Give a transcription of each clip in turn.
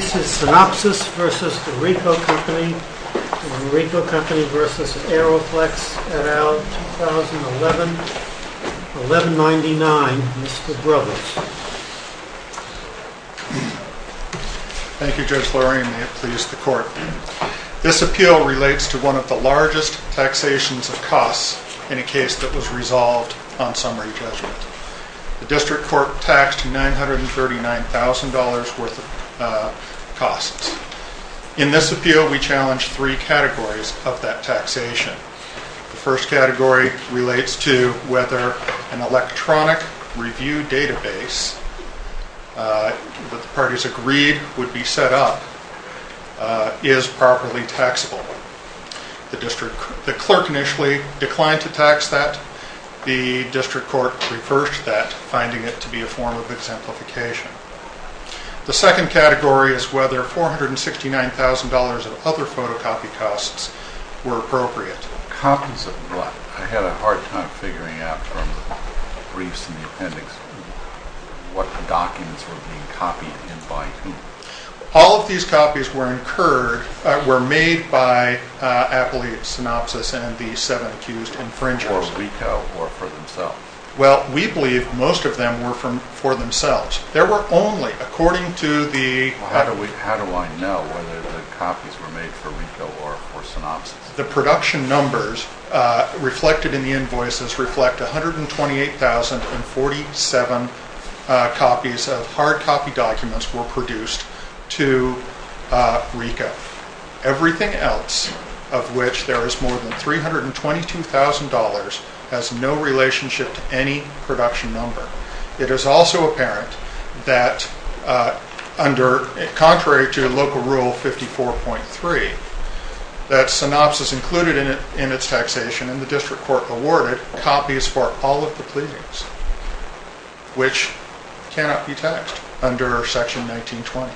v. Aeroflex et al., 2011-1199, Mr. Brubens. Thank you, Judge Lurie, and may it please the Court. This appeal relates to one of the largest taxations of costs in a case that was resolved on summary judgment. The District Court taxed $939,000 worth of costs. In this appeal, we challenge three categories of that taxation. The first category relates to whether an electronic review database that the parties agreed would be set up is properly taxable. The clerk initially declined to tax that. The District Court reversed that, finding it to be a form of exemplification. The second category is whether $469,000 of other photocopy costs were appropriate. Copies of what? I had a hard time figuring out from the briefs and the appendix what the documents were being copied and by whom. All of these copies were made by Appley Synopsys and the seven accused infringers. For RICOH or for themselves? Well, we believe most of them were for themselves. How do I know whether the copies were made for RICOH or for Synopsys? The production numbers reflected in the invoices reflect 128,047 copies of hard copy documents were produced to RICOH. Everything else, of which there is more than $322,000, has no relationship to any production number. It is also apparent that, contrary to Local Rule 54.3, that Synopsys included in its taxation, and the District Court awarded, copies for all of the pleadings, which cannot be taxed under Section 1920.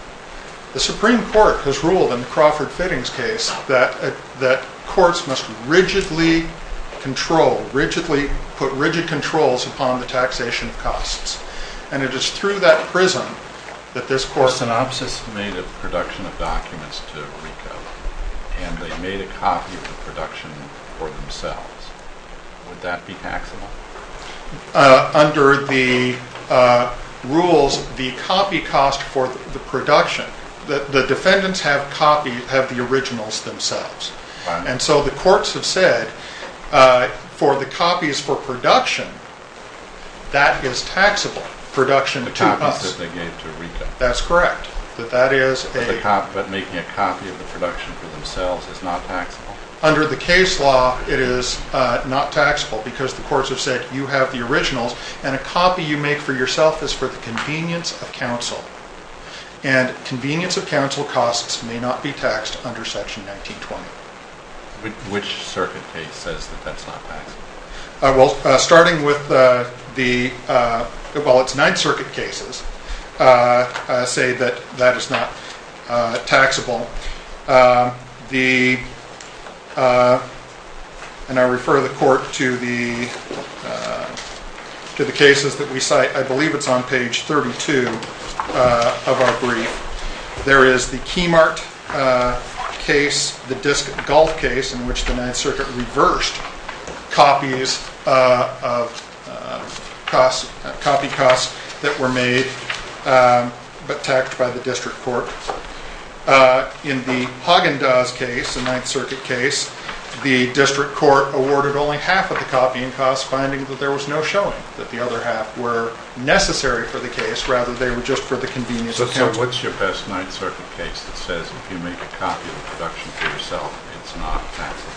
The Supreme Court has ruled in Crawford Fittings' case that courts must rigidly control, put rigid controls upon the taxation of costs. And it is through that prism that this court— If Synopsys made a production of documents to RICOH, and they made a copy of the production for themselves, would that be taxable? Under the rules, the copy cost for the production, the defendants have the originals themselves. And so the courts have said, for the copies for production, that is taxable. Production to us. The copies that they gave to RICOH. That's correct. But making a copy of the production for themselves is not taxable? Under the case law, it is not taxable because the courts have said, you have the originals, and a copy you make for yourself is for the convenience of counsel. And convenience of counsel costs may not be taxed under Section 1920. Which circuit case says that that's not taxable? Well, starting with the—well, it's Ninth Circuit cases say that that is not taxable. The—and I refer the court to the cases that we cite. I believe it's on page 32 of our brief. There is the Keymart case, the disc golf case, in which the Ninth Circuit reversed copies of—copy costs that were made, but taxed by the district court. In the Haagen-Dazs case, the Ninth Circuit case, the district court awarded only half of the copying costs, finding that there was no showing that the other half were necessary for the case, rather they were just for the convenience of counsel. So what's your best Ninth Circuit case that says, if you make a copy of a production for yourself, it's not taxable?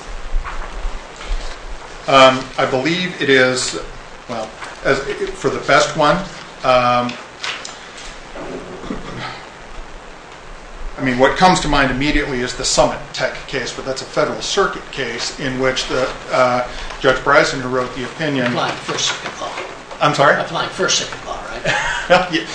I believe it is—well, for the best one, I mean, what comes to mind immediately is the Summit Tech case, but that's a federal circuit case in which Judge Breisinger wrote the opinion— Applying first circuit law. I'm sorry? Applying first circuit law, right?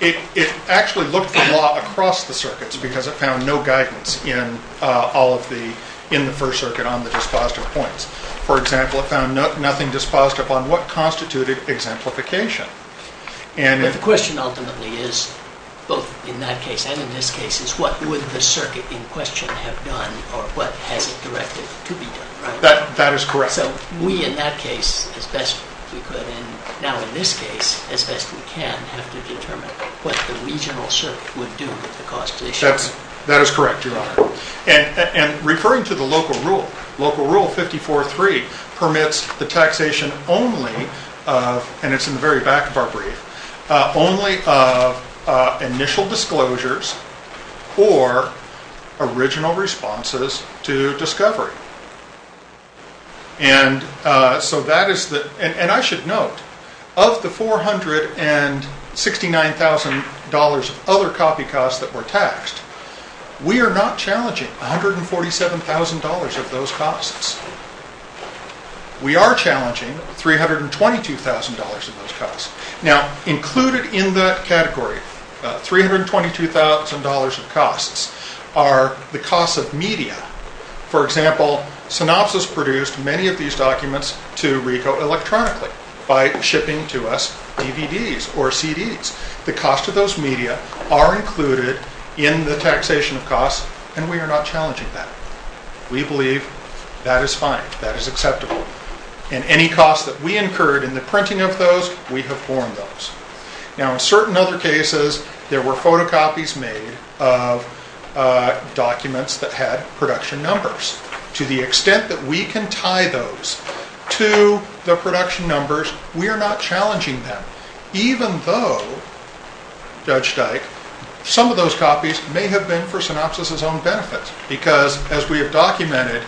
It actually looked for law across the circuits because it found no guidance in the first circuit on the dispositive points. For example, it found nothing dispositive on what constituted exemplification. But the question ultimately is, both in that case and in this case, is what would the circuit in question have done or what has it directed to be done, right? That is correct. So we, in that case, as best we could, and now in this case, as best we can, have to determine what the regional circuit would do with the cost issue. That is correct, Your Honor. And referring to the local rule, Local Rule 54-3 permits the taxation only of— and it's in the very back of our brief— initial disclosures or original responses to discovery. And so that is the—and I should note, of the $469,000 of other copy costs that were taxed, we are not challenging $147,000 of those costs. We are challenging $322,000 of those costs. Now, included in that category, $322,000 of costs, are the costs of media. For example, Synopsys produced many of these documents to RICO electronically by shipping to us DVDs or CDs. The cost of those media are included in the taxation of costs, and we are not challenging that. We believe that is fine, that is acceptable. And any costs that we incurred in the printing of those, we have borne those. Now, in certain other cases, there were photocopies made of documents that had production numbers. To the extent that we can tie those to the production numbers, we are not challenging that. Even though, Judge Dyke, some of those copies may have been for Synopsys' own benefit, because, as we have documented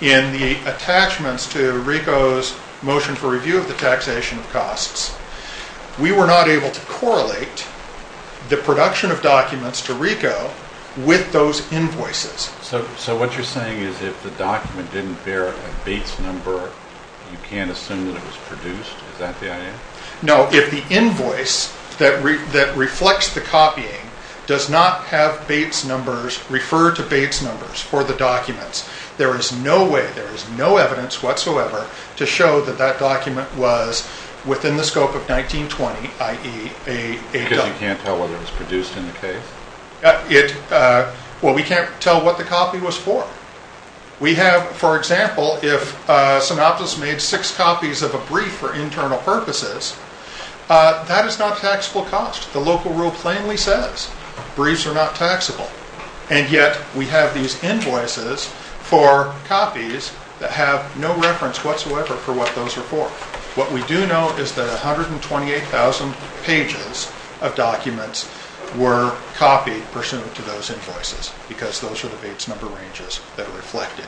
in the attachments to RICO's motion for review of the taxation of costs, we were not able to correlate the production of documents to RICO with those invoices. So what you're saying is if the document didn't bear a Bates number, you can't assume that it was produced? Is that the idea? No, if the invoice that reflects the copying does not have Bates numbers referred to Bates numbers for the documents, there is no way, there is no evidence whatsoever to show that that document was within the scope of 1920, i.e. a document. Because you can't tell whether it was produced in the case? Well, we can't tell what the copy was for. We have, for example, if Synopsys made six copies of a brief for internal purposes, that is not taxable cost. The local rule plainly says briefs are not taxable. And yet we have these invoices for copies that have no reference whatsoever for what those are for. What we do know is that 128,000 pages of documents were copied pursuant to those invoices, because those are the Bates number ranges that are reflected.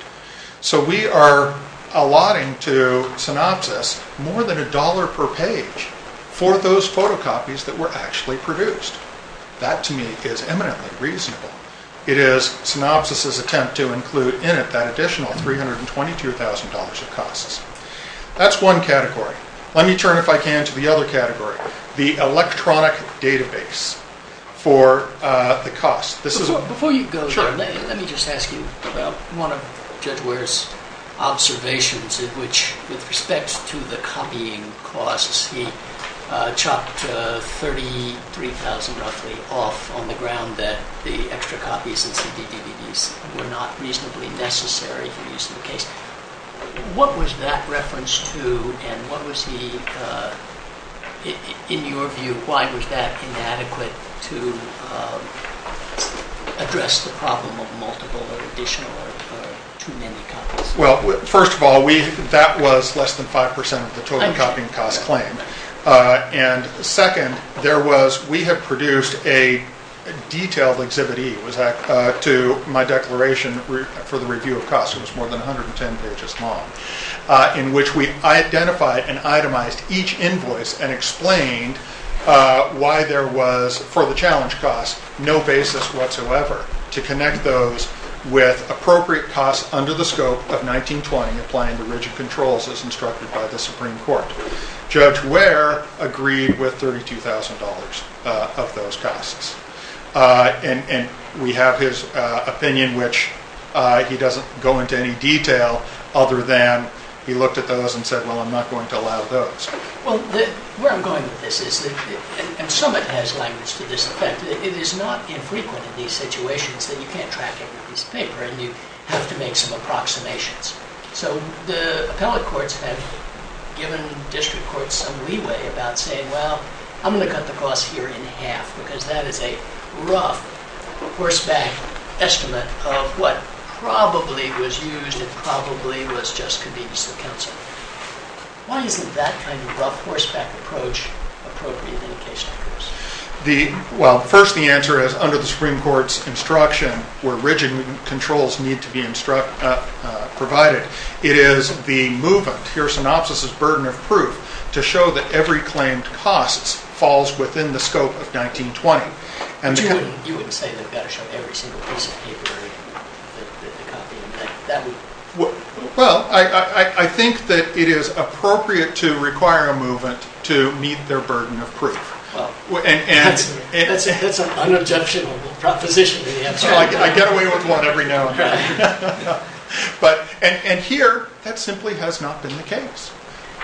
So we are allotting to Synopsys more than a dollar per page for those photocopies that were actually produced. That, to me, is eminently reasonable. It is Synopsys' attempt to include in it that additional $322,000 of costs. That's one category. Let me turn, if I can, to the other category, the electronic database for the cost. Before you go there, let me just ask you about one of Judge Ware's observations in which, with respect to the copying costs, he chopped 33,000 roughly off on the ground that the extra copies and CD-DVDs were not reasonably necessary for use in the case. What was that reference to, and what was he, in your view, why was that inadequate to address the problem of multiple or additional or too many copies? Well, first of all, that was less than 5% of the total copying cost claim. And second, we had produced a detailed Exhibit E to my declaration for the review of costs. It was more than 110 pages long, in which we identified and itemized each invoice and explained why there was, for the challenge costs, no basis whatsoever to connect those with appropriate costs under the scope of 1920 applying the rigid controls as instructed by the Supreme Court. Judge Ware agreed with $32,000 of those costs. And we have his opinion, which he doesn't go into any detail other than he looked at those and said, well, I'm not going to allow those. Well, where I'm going with this is that, and Summitt has language to this effect, it is not infrequent in these situations that you can't track every piece of paper and you have to make some approximations. So the appellate courts have given district courts some leeway about saying, well, I'm going to cut the cost here in half because that is a rough horseback estimate of what probably was used and probably was just convenience of counsel. Why isn't that kind of rough horseback approach appropriate in a case like this? Well, first the answer is, under the Supreme Court's instruction, where rigid controls need to be provided, it is the movement, here synopsis is burden of proof, to show that every claimed cost falls within the scope of 1920. But you wouldn't say they've got to show every single piece of paper in the copy? Well, I think that it is appropriate to require a movement to meet their burden of proof. That's an unobjectionable proposition to answer. And here, that simply has not been the case.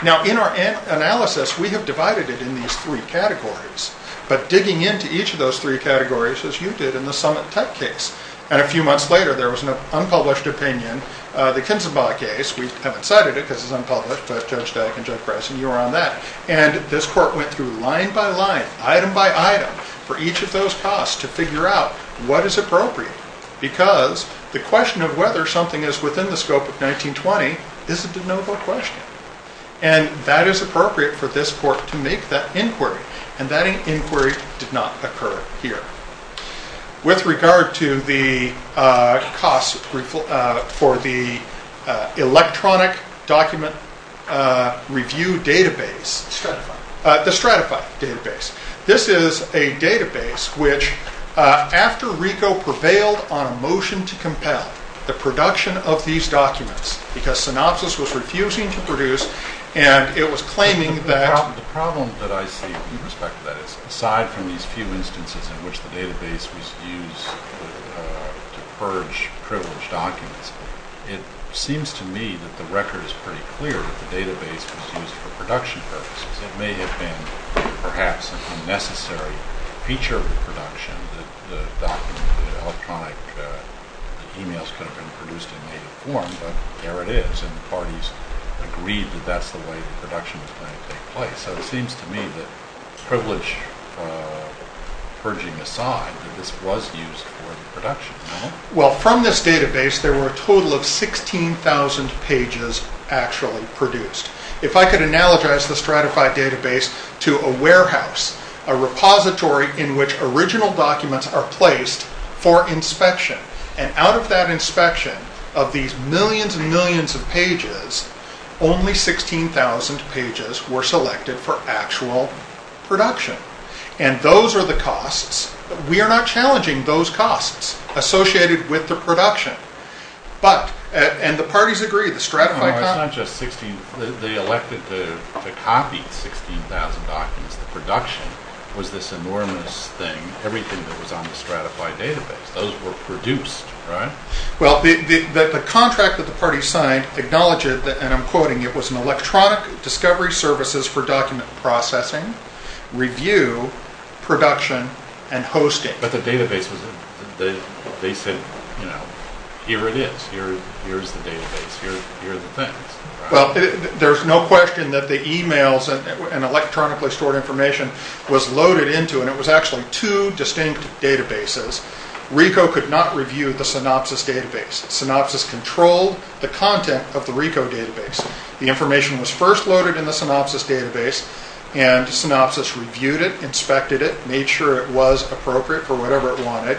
Now, in our analysis, we have divided it in these three categories, but digging into each of those three categories, as you did in the Summit Tech case, and a few months later there was an unpublished opinion, the Kinzenbaugh case, we haven't cited it because it's unpublished, but Judge Dyck and Judge Bryson, you were on that, and this court went through line by line, item by item, for each of those costs to figure out what is appropriate because the question of whether something is within the scope of 1920 is a de novo question. And that is appropriate for this court to make that inquiry, and that inquiry did not occur here. With regard to the costs for the electronic document review database, the Stratify database, this is a database which, after RICO prevailed on a motion to compel the production of these documents because Synopsys was refusing to produce and it was claiming that The problem that I see with respect to that is, aside from these few instances in which the database was used to purge privileged documents, it seems to me that the record is pretty clear that the database was used for production purposes. It may have been perhaps an unnecessary feature of the production, that the electronic emails could have been produced in native form, but there it is, and the parties agreed that that's the way the production was going to take place. So it seems to me that privilege purging aside, that this was used for the production, no? Well, from this database, there were a total of 16,000 pages actually produced. If I could analogize the Stratify database to a warehouse, a repository in which original documents are placed for inspection, and out of that inspection of these millions and millions of pages, only 16,000 pages were selected for actual production. And those are the costs. We are not challenging those costs associated with the production. But, and the parties agreed, the Stratify... No, it's not just 16,000. They elected to copy 16,000 documents. The production was this enormous thing, everything that was on the Stratify database. Those were produced, right? Well, the contract that the parties signed acknowledged, and I'm quoting, it was an electronic discovery services for document processing, review, production, and hosting. But the database was, they said, you know, here it is. Here's the database. Here are the things. Well, there's no question that the emails and electronically stored information was loaded into, and it was actually two distinct databases. RICO could not review the Synopsys database. Synopsys controlled the content of the RICO database. The information was first loaded in the Synopsys database, and Synopsys reviewed it, inspected it, made sure it was appropriate for whatever it wanted,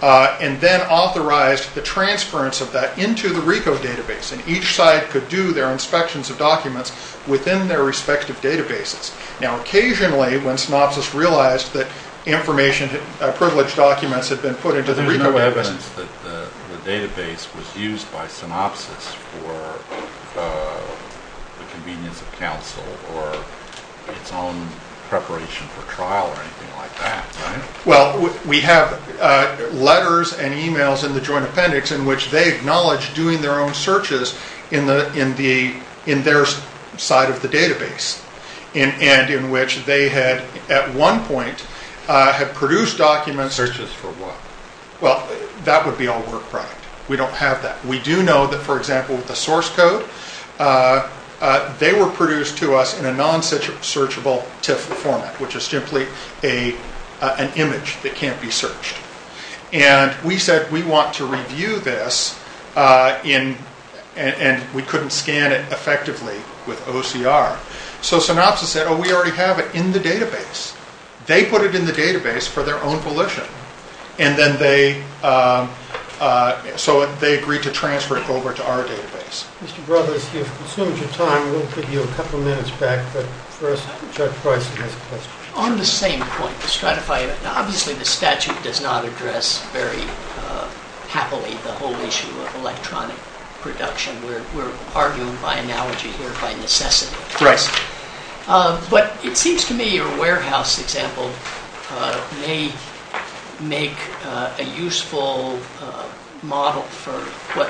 and then authorized the transference of that into the RICO database, and each side could do their inspections of documents within their respective databases. Now, occasionally, when Synopsys realized that information, privileged documents had been put into the RICO database... There's no evidence that the database was used by Synopsys for the convenience of counsel or its own preparation for trial or anything like that, right? Well, we have letters and emails in the joint appendix in which they acknowledge doing their own searches in their side of the database, and in which they had, at one point, had produced documents... Searches for what? Well, that would be all work product. We don't have that. We do know that, for example, with the source code, they were produced to us in a non-searchable TIFF format, which is simply an image that can't be searched. And we said, we want to review this, and we couldn't scan it effectively with OCR. So Synopsys said, oh, we already have it in the database. They put it in the database for their own volition, and then they agreed to transfer it over to our database. Mr. Brothers, you've consumed your time. We'll give you a couple of minutes back, but first, Judge Price has a question. On the same point, the stratified... Obviously, the statute does not address very happily the whole issue of electronic production. Right. But it seems to me your warehouse example may make a useful model for what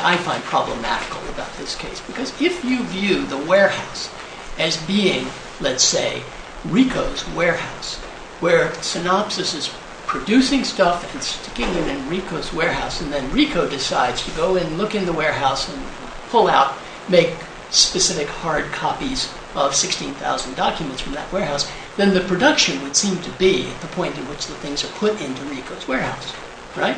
I find problematical about this case. Because if you view the warehouse as being, let's say, Ricoh's warehouse, where Synopsys is producing stuff and sticking it in Ricoh's warehouse, and then Ricoh decides to go and look in the warehouse and pull out, make specific hard copies of 16,000 documents from that warehouse, then the production would seem to be at the point at which the things are put into Ricoh's warehouse, right?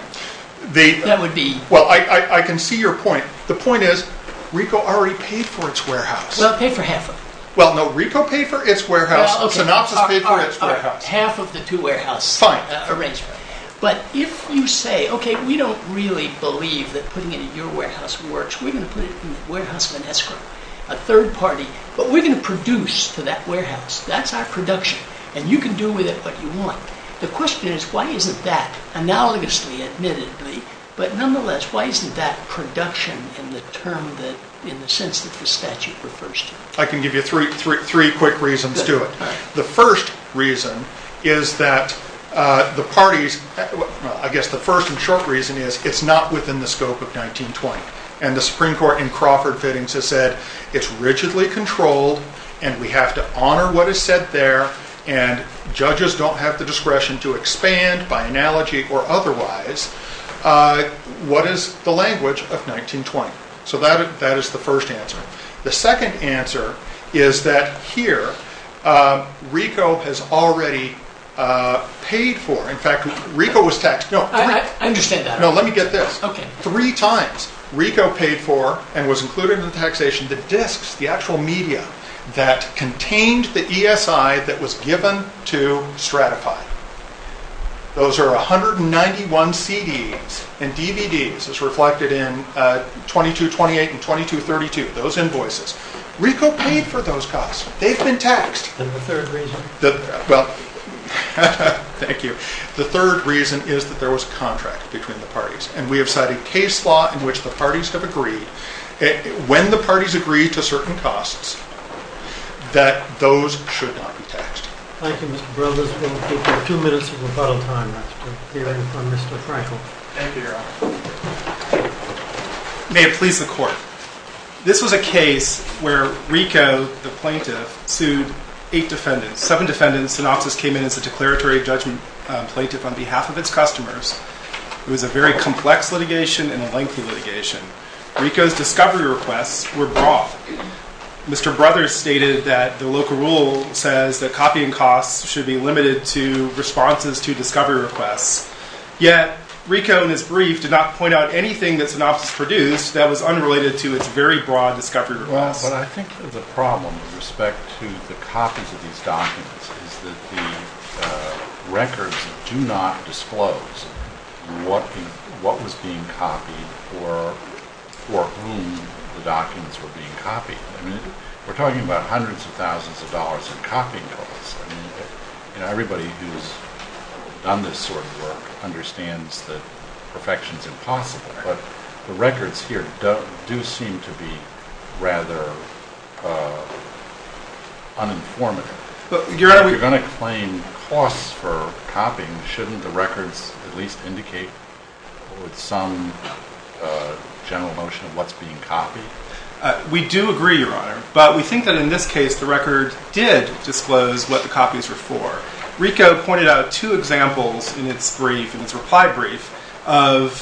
That would be... Well, I can see your point. The point is, Ricoh already paid for its warehouse. Well, it paid for half of it. Well, no, Ricoh paid for its warehouse. Synopsys paid for its warehouse. Half of the two warehouses. Fine. But if you say, okay, we don't really believe that putting it in your warehouse works. We're going to put it in the warehouse of an escrow, a third party. But we're going to produce to that warehouse. That's our production. And you can do with it what you want. The question is, why isn't that, analogously, admittedly, but nonetheless, why isn't that production in the sense that the statute refers to? I can give you three quick reasons to it. The first reason is that the parties... I guess the first and short reason is it's not within the scope of 1920. And the Supreme Court in Crawford fittings has said it's rigidly controlled, and we have to honor what is said there, and judges don't have the discretion to expand by analogy or otherwise what is the language of 1920. So that is the first answer. The second answer is that here RICO has already paid for. In fact, RICO was taxed. I understand that. No, let me get this. Okay. Three times RICO paid for and was included in the taxation the disks, the actual media that contained the ESI that was given to Stratify. Those are 191 CDs and DVDs as reflected in 2228 and 2232. Those invoices. RICO paid for those costs. They've been taxed. And the third reason? Well, thank you. The third reason is that there was a contract between the parties, and we have cited case law in which the parties have agreed, when the parties agree to certain costs, that those should not be taxed. Thank you, Mr. Burleson. We have two minutes of rebuttal time left to hear from Mr. Frankel. Thank you, Your Honor. May it please the Court. This was a case where RICO, the plaintiff, sued eight defendants. Seven defendants, Synopsys came in as a declaratory judgment plaintiff on behalf of its customers. It was a very complex litigation and a lengthy litigation. RICO's discovery requests were brought. Mr. Brothers stated that the local rule says that copying costs should be limited to responses to discovery requests. Yet RICO in its brief did not point out anything that Synopsys produced that was unrelated to its very broad discovery requests. Well, but I think the problem with respect to the copies of these documents is that the records do not disclose what was being copied or for whom the documents were being copied. I mean, we're talking about hundreds of thousands of dollars in copying costs. I mean, everybody who's done this sort of work understands that perfection is impossible. But the records here do seem to be rather uninformative. If you're going to claim costs for copying, shouldn't the records at least indicate some general notion of what's being copied? We do agree, Your Honor. But we think that in this case the record did disclose what the copies were for. RICO pointed out two examples in its brief, in its reply brief, of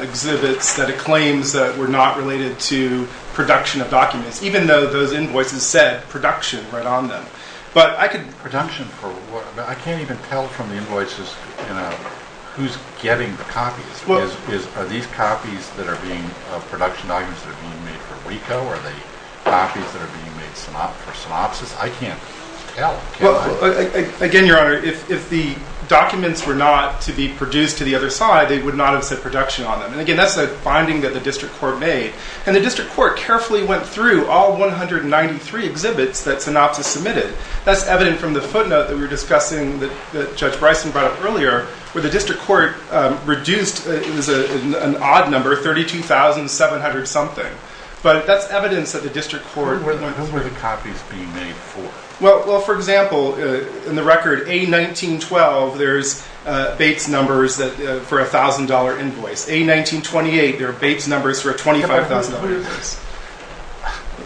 exhibits that it claims that were not related to production of documents, even though those invoices said production right on them. Production for what? I can't even tell from the invoices who's getting the copies. Are these copies that are being production documents that are being made for RICO? Are they copies that are being made for Synopsys? I can't tell. Again, Your Honor, if the documents were not to be produced to the other side, they would not have said production on them. And again, that's a finding that the district court made. And the district court carefully went through all 193 exhibits that Synopsys submitted. That's evident from the footnote that we were discussing that Judge Bryson brought up earlier, where the district court reduced an odd number, 32,700-something. But that's evidence that the district court went through. Who were the copies being made for? Well, for example, in the record A1912, there's Bates numbers for a $1,000 invoice. A1928, there are Bates numbers for a $25,000 invoice.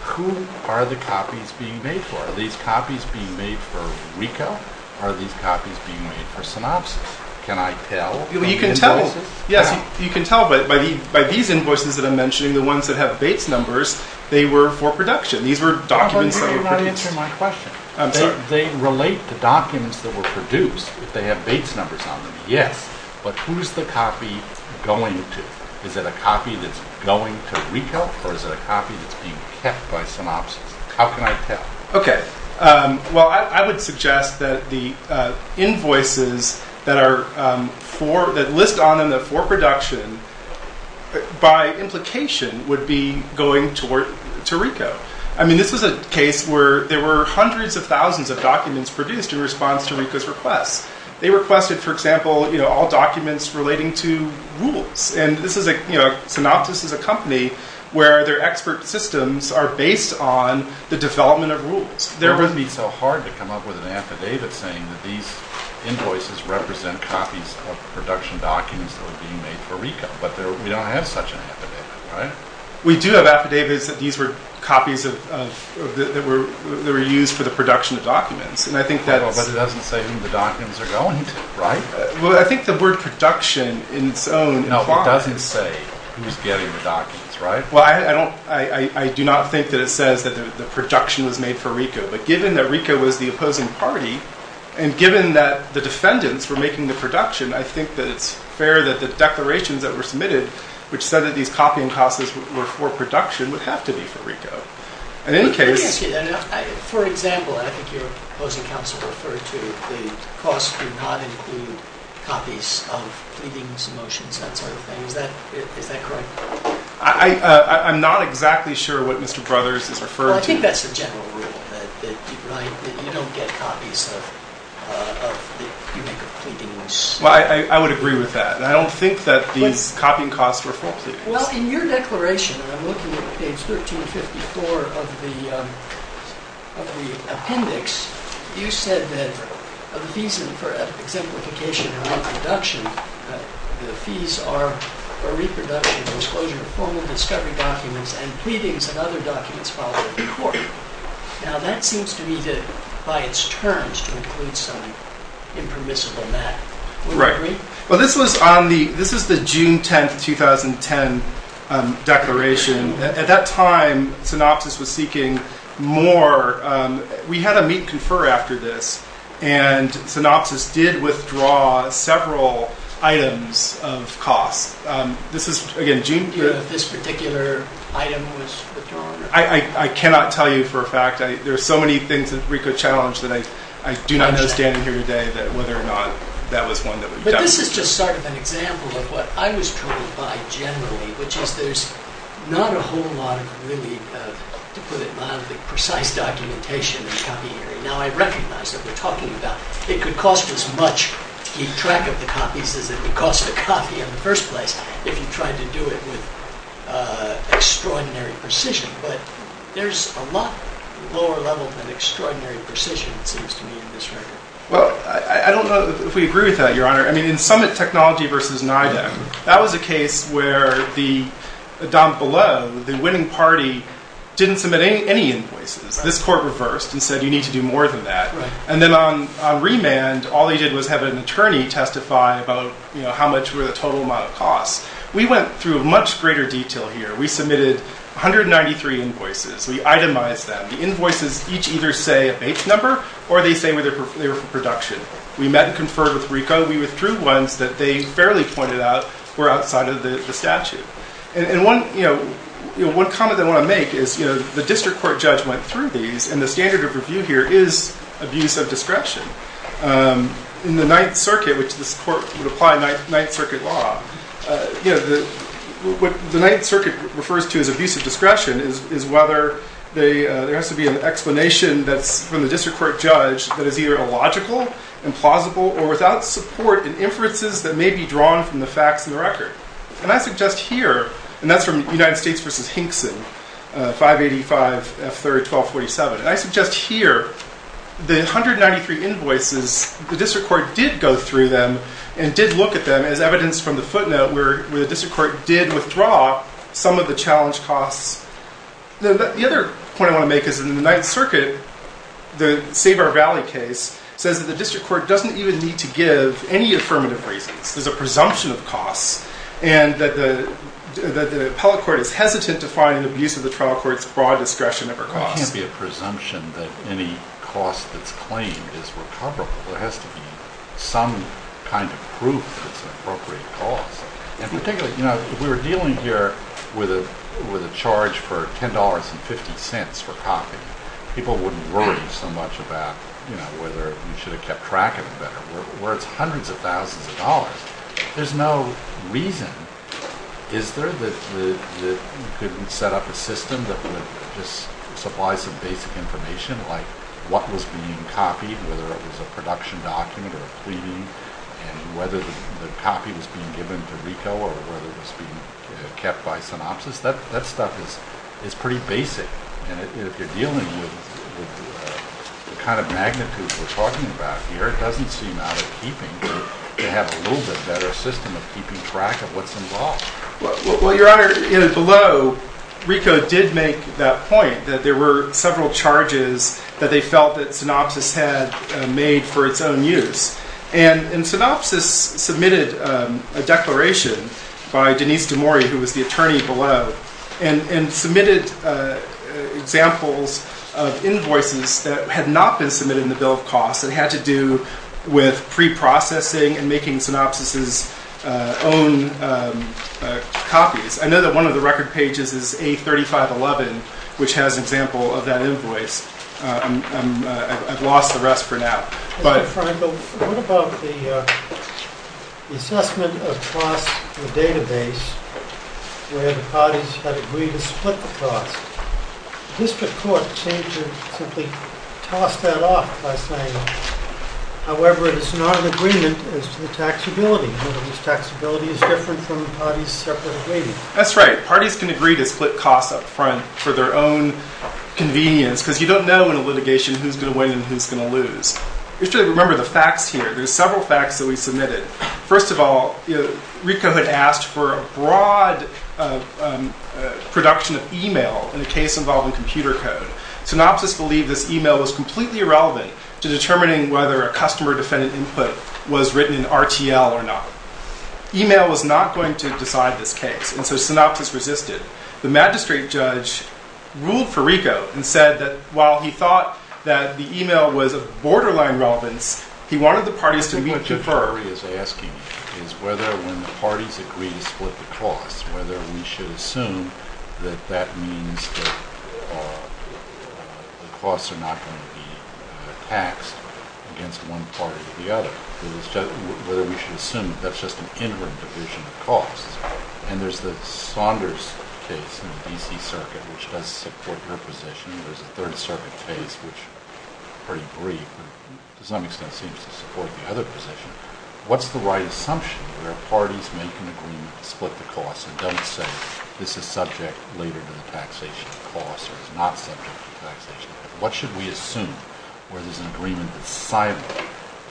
Who are the copies being made for? Are these copies being made for RICO? Are these copies being made for Synopsys? Can I tell from the invoices? Yes, you can tell. But by these invoices that I'm mentioning, the ones that have Bates numbers, they were for production. These were documents that were produced. They relate to documents that were produced if they have Bates numbers on them, yes. But who's the copy going to? Is it a copy that's going to RICO, or is it a copy that's being kept by Synopsys? How can I tell? Okay. Well, I would suggest that the invoices that list on them that are for production, by implication, would be going to RICO. I mean, this was a case where there were hundreds of thousands of documents produced in response to RICO's request. They requested, for example, all documents relating to rules. And Synopsys is a company where their expert systems are based on the development of rules. It would be so hard to come up with an affidavit saying that these invoices represent copies of production documents that were being made for RICO, but we don't have such an affidavit, right? We do have affidavits that these were copies that were used for the production of documents. But it doesn't say who the documents are going to, right? Well, I think the word production in its own… No, it doesn't say who's getting the documents, right? Well, I do not think that it says that the production was made for RICO. But given that RICO was the opposing party, and given that the defendants were making the production, I think that it's fair that the declarations that were submitted, which said that these copying costs were for production, would have to be for RICO. In any case… Let me ask you that. For example, and I think you're opposing counsel referred to, the costs do not include copies of pleadings, motions, that sort of thing. Is that correct? I'm not exactly sure what Mr. Brothers is referring to. Well, I think that's the general rule, right? That you don't get copies of… you make a pleadings… Well, I would agree with that. I don't think that these copying costs were for pleadings. Well, in your declaration, and I'm looking at page 1354 of the appendix, you said that the fees for exemplification and reproduction, the fees are for reproduction, disclosure of formal discovery documents, and pleadings and other documents filed at the court. Now, that seems to me to, by its terms, to include some impermissible matter. Would you agree? Well, this is the June 10, 2010 declaration. At that time, Synopsys was seeking more. We had a meet-confer after this, and Synopsys did withdraw several items of costs. Do you know if this particular item was withdrawn? I cannot tell you for a fact. There are so many things that RICO challenged that I do not know, standing here today, whether or not that was one that was done. Well, this is just sort of an example of what I was troubled by generally, which is there's not a whole lot of really, to put it mildly, precise documentation in the copy area. Now, I recognize that we're talking about it could cost as much to keep track of the copies as it would cost to copy in the first place if you tried to do it with extraordinary precision. But there's a lot lower level than extraordinary precision, it seems to me, in this record. Well, I don't know if we agree with that, Your Honor. I mean, in Summit Technology v. NIDAC, that was a case where the don below, the winning party, didn't submit any invoices. This court reversed and said you need to do more than that. And then on remand, all they did was have an attorney testify about how much were the total amount of costs. We went through a much greater detail here. We submitted 193 invoices. We itemized them. The invoices each either say a base number or they say they were for production. We met and conferred with RICO. We withdrew ones that they fairly pointed out were outside of the statute. And one comment I want to make is the district court judge went through these, and the standard of review here is abuse of discretion. In the Ninth Circuit, which this court would apply Ninth Circuit law, what the Ninth Circuit refers to as abuse of discretion is whether there has to be an explanation that's from the district court judge that is either illogical, implausible, or without support in inferences that may be drawn from the facts in the record. And I suggest here, and that's from United States v. Hinkson, 585 F30-1247, and I suggest here the 193 invoices, the district court did go through them and did look at them as evidence from the footnote where the district court did withdraw some of the challenge costs. The other point I want to make is in the Ninth Circuit, the Save Our Valley case says that the district court doesn't even need to give any affirmative reasons. There's a presumption of costs. And that the appellate court is hesitant to find an abuse of the trial court's broad discretion over costs. It can't be a presumption that any cost that's claimed is recoverable. There has to be some kind of proof that it's an appropriate cost. And particularly, you know, if we were dealing here with a charge for $10.50 for copying, people wouldn't worry so much about, you know, whether we should have kept track of it better. Where it's hundreds of thousands of dollars, there's no reason. Is there that you couldn't set up a system that would just supply some basic information, like what was being copied, whether it was a production document or a pleading, and whether the copy was being given to RICO or whether it was being kept by Synopsys? That stuff is pretty basic. And if you're dealing with the kind of magnitude we're talking about here, it doesn't seem out of keeping to have a little bit better system of keeping track of what's involved. Well, Your Honor, below RICO did make that point that there were several charges that they felt that Synopsys had made for its own use. And Synopsys submitted a declaration by Denise DeMori, who was the attorney below, and submitted examples of invoices that had not been submitted in the bill of costs that had to do with preprocessing and making Synopsys' own copies. I know that one of the record pages is A3511, which has an example of that invoice. I've lost the rest for now. Mr. Feingold, what about the assessment of cost in the database where the parties have agreed to split the cost? The district court seemed to simply toss that off by saying, however, it is not an agreement as to the taxability, whether this taxability is different from the parties' separate agreement. That's right. Parties can agree to split costs up front for their own convenience because you don't know in a litigation who's going to win and who's going to lose. You should remember the facts here. There are several facts that we submitted. First of all, RICO had asked for a broad production of e-mail in a case involving computer code. Synopsys believed this e-mail was completely irrelevant to determining whether a customer defendant input was written in RTL or not. E-mail was not going to decide this case, and so Synopsys resisted. The magistrate judge ruled for RICO and said that while he thought that the e-mail was of borderline relevance, he wanted the parties to be preferred. What the jury is asking is whether when the parties agree to split the costs, whether we should assume that that means the costs are not going to be taxed against one party or the other. Whether we should assume that that's just an interim division of costs. And there's the Saunders case in the D.C. Circuit, which does support her position. There's a Third Circuit case, which is pretty brief, but to some extent seems to support the other position. What's the right assumption where parties make an agreement to split the costs and don't say this is subject later to the taxation costs or is not subject to taxation? What should we assume where there's an agreement that's signable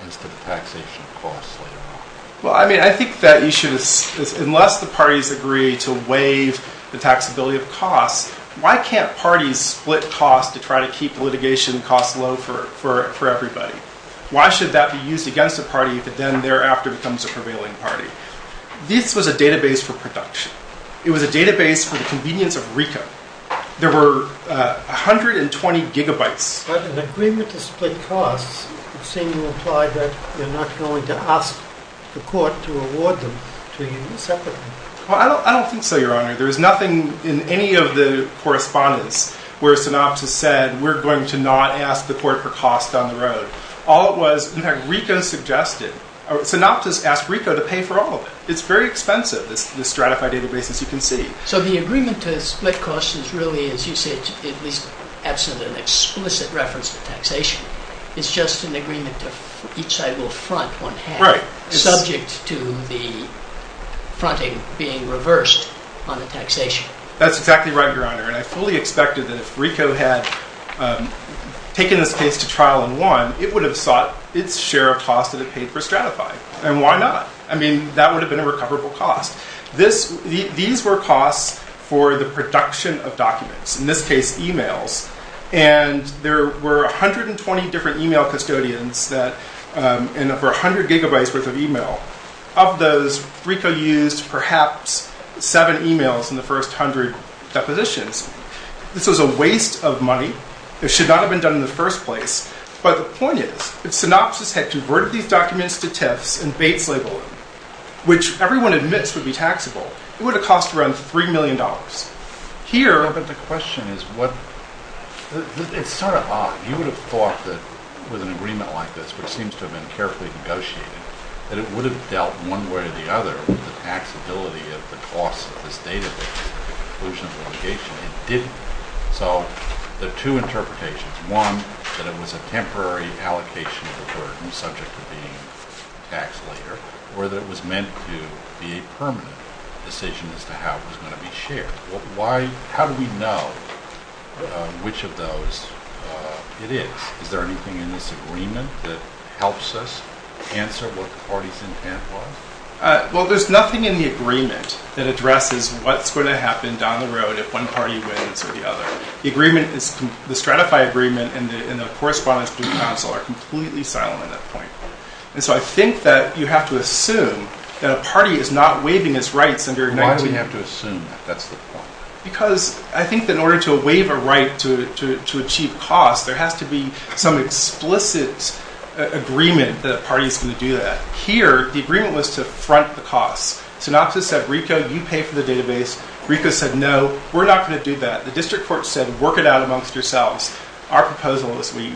as to the taxation costs later on? Well, I mean, I think that you should assume unless the parties agree to waive the taxability of costs, why can't parties split costs to try to keep litigation costs low for everybody? Why should that be used against a party if it then thereafter becomes a prevailing party? This was a database for production. It was a database for the convenience of RICO. There were 120 gigabytes. But an agreement to split costs would seem to imply that you're not going to ask the court to award them to you separately. Well, I don't think so, Your Honor. There was nothing in any of the correspondence where Synoptis said we're going to not ask the court for costs on the road. All it was, in fact, RICO suggested. Synoptis asked RICO to pay for all of it. It's very expensive, this Stratify database, as you can see. So the agreement to split costs is really, as you said, at least absent an explicit reference to taxation. It's just an agreement to each side will front one half. Subject to the fronting being reversed on the taxation. That's exactly right, Your Honor. And I fully expected that if RICO had taken this case to trial and won, it would have sought its share of costs that it paid for Stratify. And why not? I mean, that would have been a recoverable cost. These were costs for the production of documents, in this case, emails. And there were 120 different email custodians and over 100 gigabytes worth of email. Of those, RICO used perhaps seven emails in the first 100 depositions. This was a waste of money. It should not have been done in the first place. But the point is, if Synoptis had converted these documents to TIFs and Bates labeled them, which everyone admits would be taxable, it would have cost around $3 million. But the question is, it's sort of odd. He would have thought that with an agreement like this, which seems to have been carefully negotiated, that it would have dealt one way or the other with the taxability of the cost of this database at the conclusion of the litigation. It didn't. So there are two interpretations. One, that it was a temporary allocation of the burden subject to being taxed later, or that it was meant to be a permanent decision as to how it was going to be shared. How do we know which of those it is? Is there anything in this agreement that helps us answer what the party's intent was? Well, there's nothing in the agreement that addresses what's going to happen down the road if one party wins or the other. The Stratify agreement and the correspondence to the council are completely silent at that point. And so I think that you have to assume that a party is not waiving its rights under 19. Why do we have to assume that that's the point? Because I think that in order to waive a right to achieve costs, there has to be some explicit agreement that a party is going to do that. Here, the agreement was to front the costs. Synopsis said, Rico, you pay for the database. Rico said, no, we're not going to do that. The district court said, work it out amongst yourselves. Our proposal is we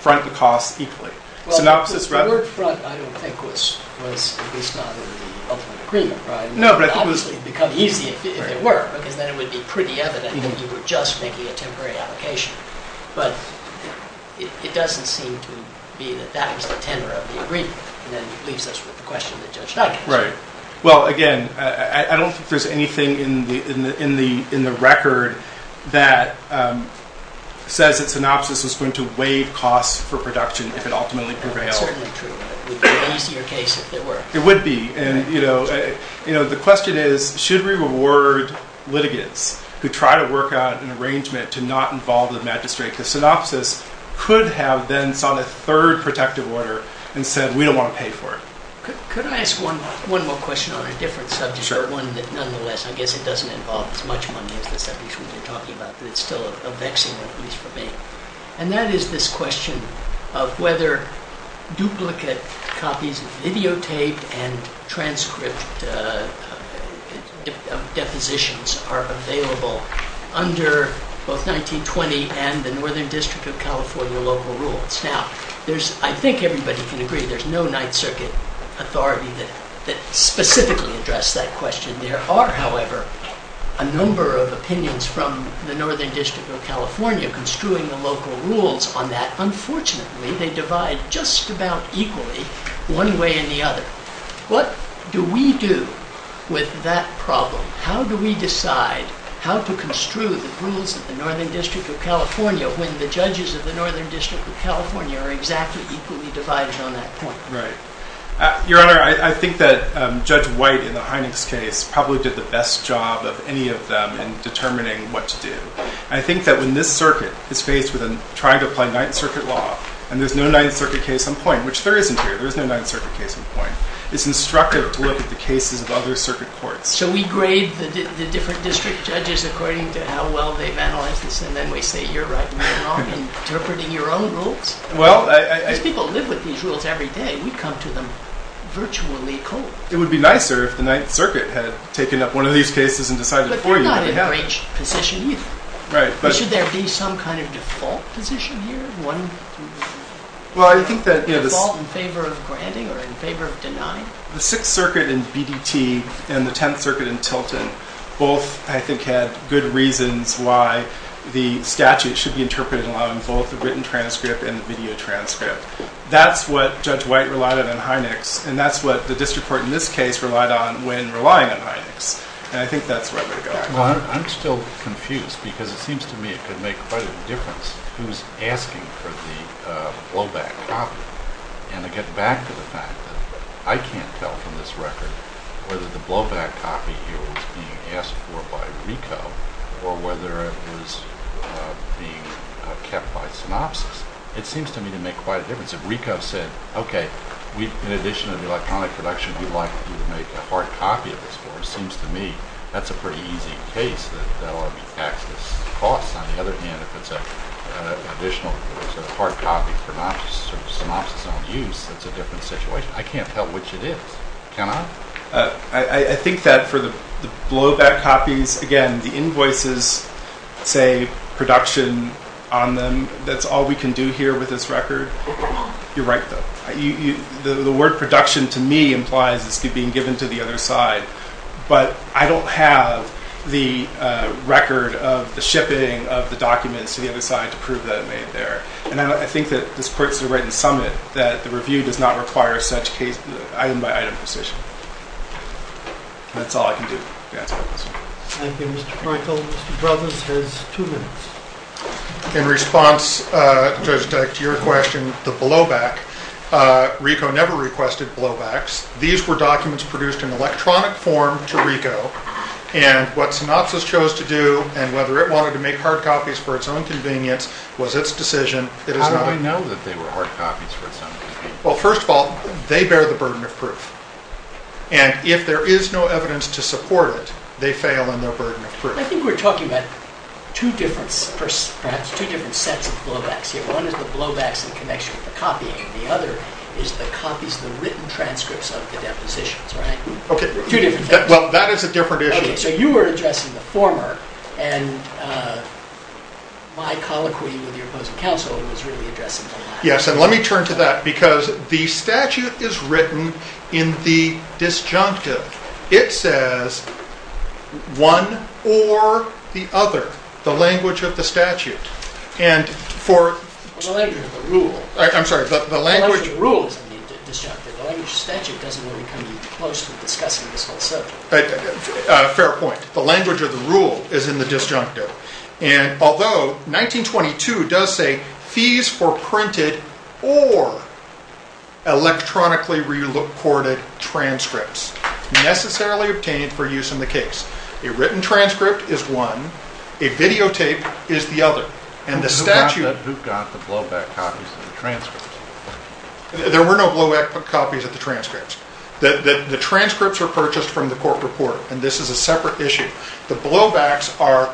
front the costs equally. Well, the word front I don't think was based on the ultimate agreement, right? It would obviously become easy if it were, because then it would be pretty evident that you were just making a temporary allocation. But it doesn't seem to be that that was the tenor of the agreement. And that leaves us with the question that Judge Duggan asked. Well, again, I don't think there's anything in the record that says that synopsis is going to waive costs for production if it ultimately prevails. That's certainly true, but it would be an easier case if it were. It would be. And the question is, should we reward litigants who try to work out an arrangement to not involve the magistrate? Because synopsis could have then signed a third protective order and said, we don't want to pay for it. Could I ask one more question on a different subject? Sure. One that, nonetheless, I guess it doesn't involve as much money as the subject we've been talking about, but it's still a vexing one, at least for me. And that is this question of whether duplicate copies of videotape and transcript depositions are available under both 1920 and the Northern District of California local rules. Now, I think everybody can agree there's no Ninth Circuit authority that specifically addressed that question. There are, however, a number of opinions from the Northern District of California in construing the local rules on that. Unfortunately, they divide just about equally one way or the other. What do we do with that problem? How do we decide how to construe the rules of the Northern District of California when the judges of the Northern District of California are exactly equally divided on that point? Right. Your Honor, I think that Judge White in the Heinex case probably did the best job of any of them in determining what to do. And I think that when this circuit is faced with trying to apply Ninth Circuit law and there's no Ninth Circuit case on point, which there isn't here. There is no Ninth Circuit case on point. It's instructive to look at the cases of other circuit courts. So we grade the different district judges according to how well they've analyzed this and then we say, you're right. You're not interpreting your own rules. Well, I... Because people live with these rules every day. We come to them virtually cold. It would be nicer if the Ninth Circuit had taken up one of these cases and decided for you. It's not an enraged position either. Right. But should there be some kind of default position here? Well, I think that... Default in favor of granting or in favor of denying? The Sixth Circuit in BDT and the Tenth Circuit in Tilton both, I think, had good reasons why the statute should be interpreted along both the written transcript and the video transcript. That's what Judge White relied on in Heinex and that's what the district court in this case relied on when relying on Heinex. And I think that's where we're going. I'm still confused because it seems to me it could make quite a difference who's asking for the blowback copy. And to get back to the fact that I can't tell from this record whether the blowback copy here was being asked for by RICO or whether it was being kept by Synopsys. It seems to me to make quite a difference. If RICO said, okay, in addition to the electronic production we'd like you to make a hard copy of this for us. It seems to me that's a pretty easy case that that ought to be taxed as costs. On the other hand, if it's an additional hard copy for Synopsys own use that's a different situation. I can't tell which it is, can I? I think that for the blowback copies, again, the invoices say production on them. That's all we can do here with this record. You're right, though. The word production to me implies it's being given to the other side. But I don't have the record of the shipping of the documents to the other side to prove that it made there. And I think that this puts it right in the summit that the review does not require such item-by-item precision. That's all I can do to answer that question. Thank you, Mr. Feuchel. Mr. Brothers has two minutes. In response, Judge Deck, to your question, the blowback, RICO never requested blowbacks. These were documents produced in electronic form to RICO. And what Synopsys chose to do, and whether it wanted to make hard copies for its own convenience, was its decision. How do I know that they were hard copies for its own convenience? Well, first of all, they bear the burden of proof. And if there is no evidence to support it, they fail in their burden of proof. I think we're talking about two different sets of blowbacks here. One is the blowbacks in connection with the copying. The other is the copies, the written transcripts of the depositions, right? Okay. Two different things. Well, that is a different issue. Okay. So you were addressing the former, and my colloquy with your opposing counsel was really addressing the latter. Yes, and let me turn to that, because the statute is written in the disjunctive. It says one or the other, the language of the statute. The language of the rule is in the disjunctive. The language of the statute doesn't really come close to discussing this whole subject. Fair point. The language of the rule is in the disjunctive. And although 1922 does say fees for printed or electronically reported transcripts necessarily obtained for use in the case. A written transcript is one. A videotape is the other. Who got the blowback copies of the transcripts? There were no blowback copies of the transcripts. The transcripts were purchased from the court report, and this is a separate issue. The blowbacks are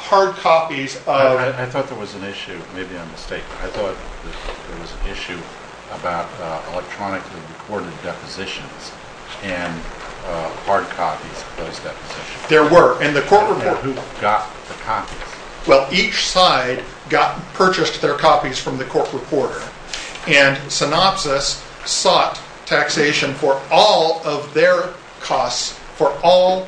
hard copies of... I thought there was an issue. Maybe I'm mistaken. I thought there was an issue about electronically recorded depositions and hard copies of those depositions. There were. Who got the copies? Well, each side purchased their copies from the court reporter, and Synopsys sought taxation for all of their costs for all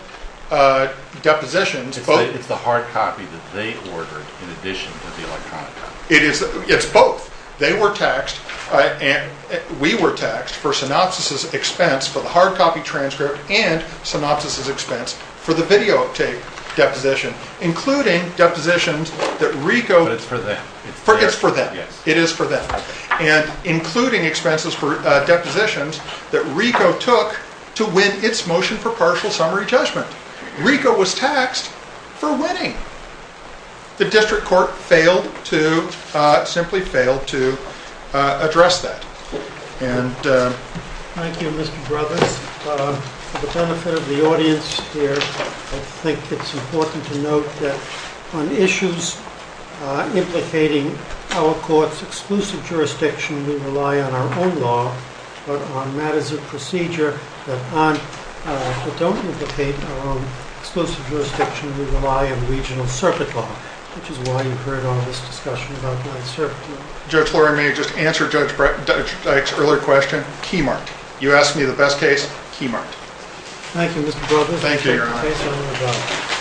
depositions. It's the hard copy that they ordered in addition to the electronic copy. It's both. They were taxed and we were taxed for Synopsys' expense for the hard copy transcript and Synopsys' expense for the videotape deposition, including depositions that RICO... But it's for them. It's for them. Yes. It is for them, and including expenses for depositions that RICO took to win its motion for partial summary judgment. RICO was taxed for winning. The district court simply failed to address that. Thank you, Mr. Brothers. For the benefit of the audience here, I think it's important to note that on issues implicating our court's exclusive jurisdiction, we rely on our own law. But on matters of procedure that don't implicate our own exclusive jurisdiction, we rely on regional circuit law, which is why you've heard all this discussion about non-circuit law. Judge Flory, may I just answer Judge Dyke's earlier question? Keymarked. You asked me the best case. Keymarked. Thank you, Mr. Brothers. Thank you, Your Honor.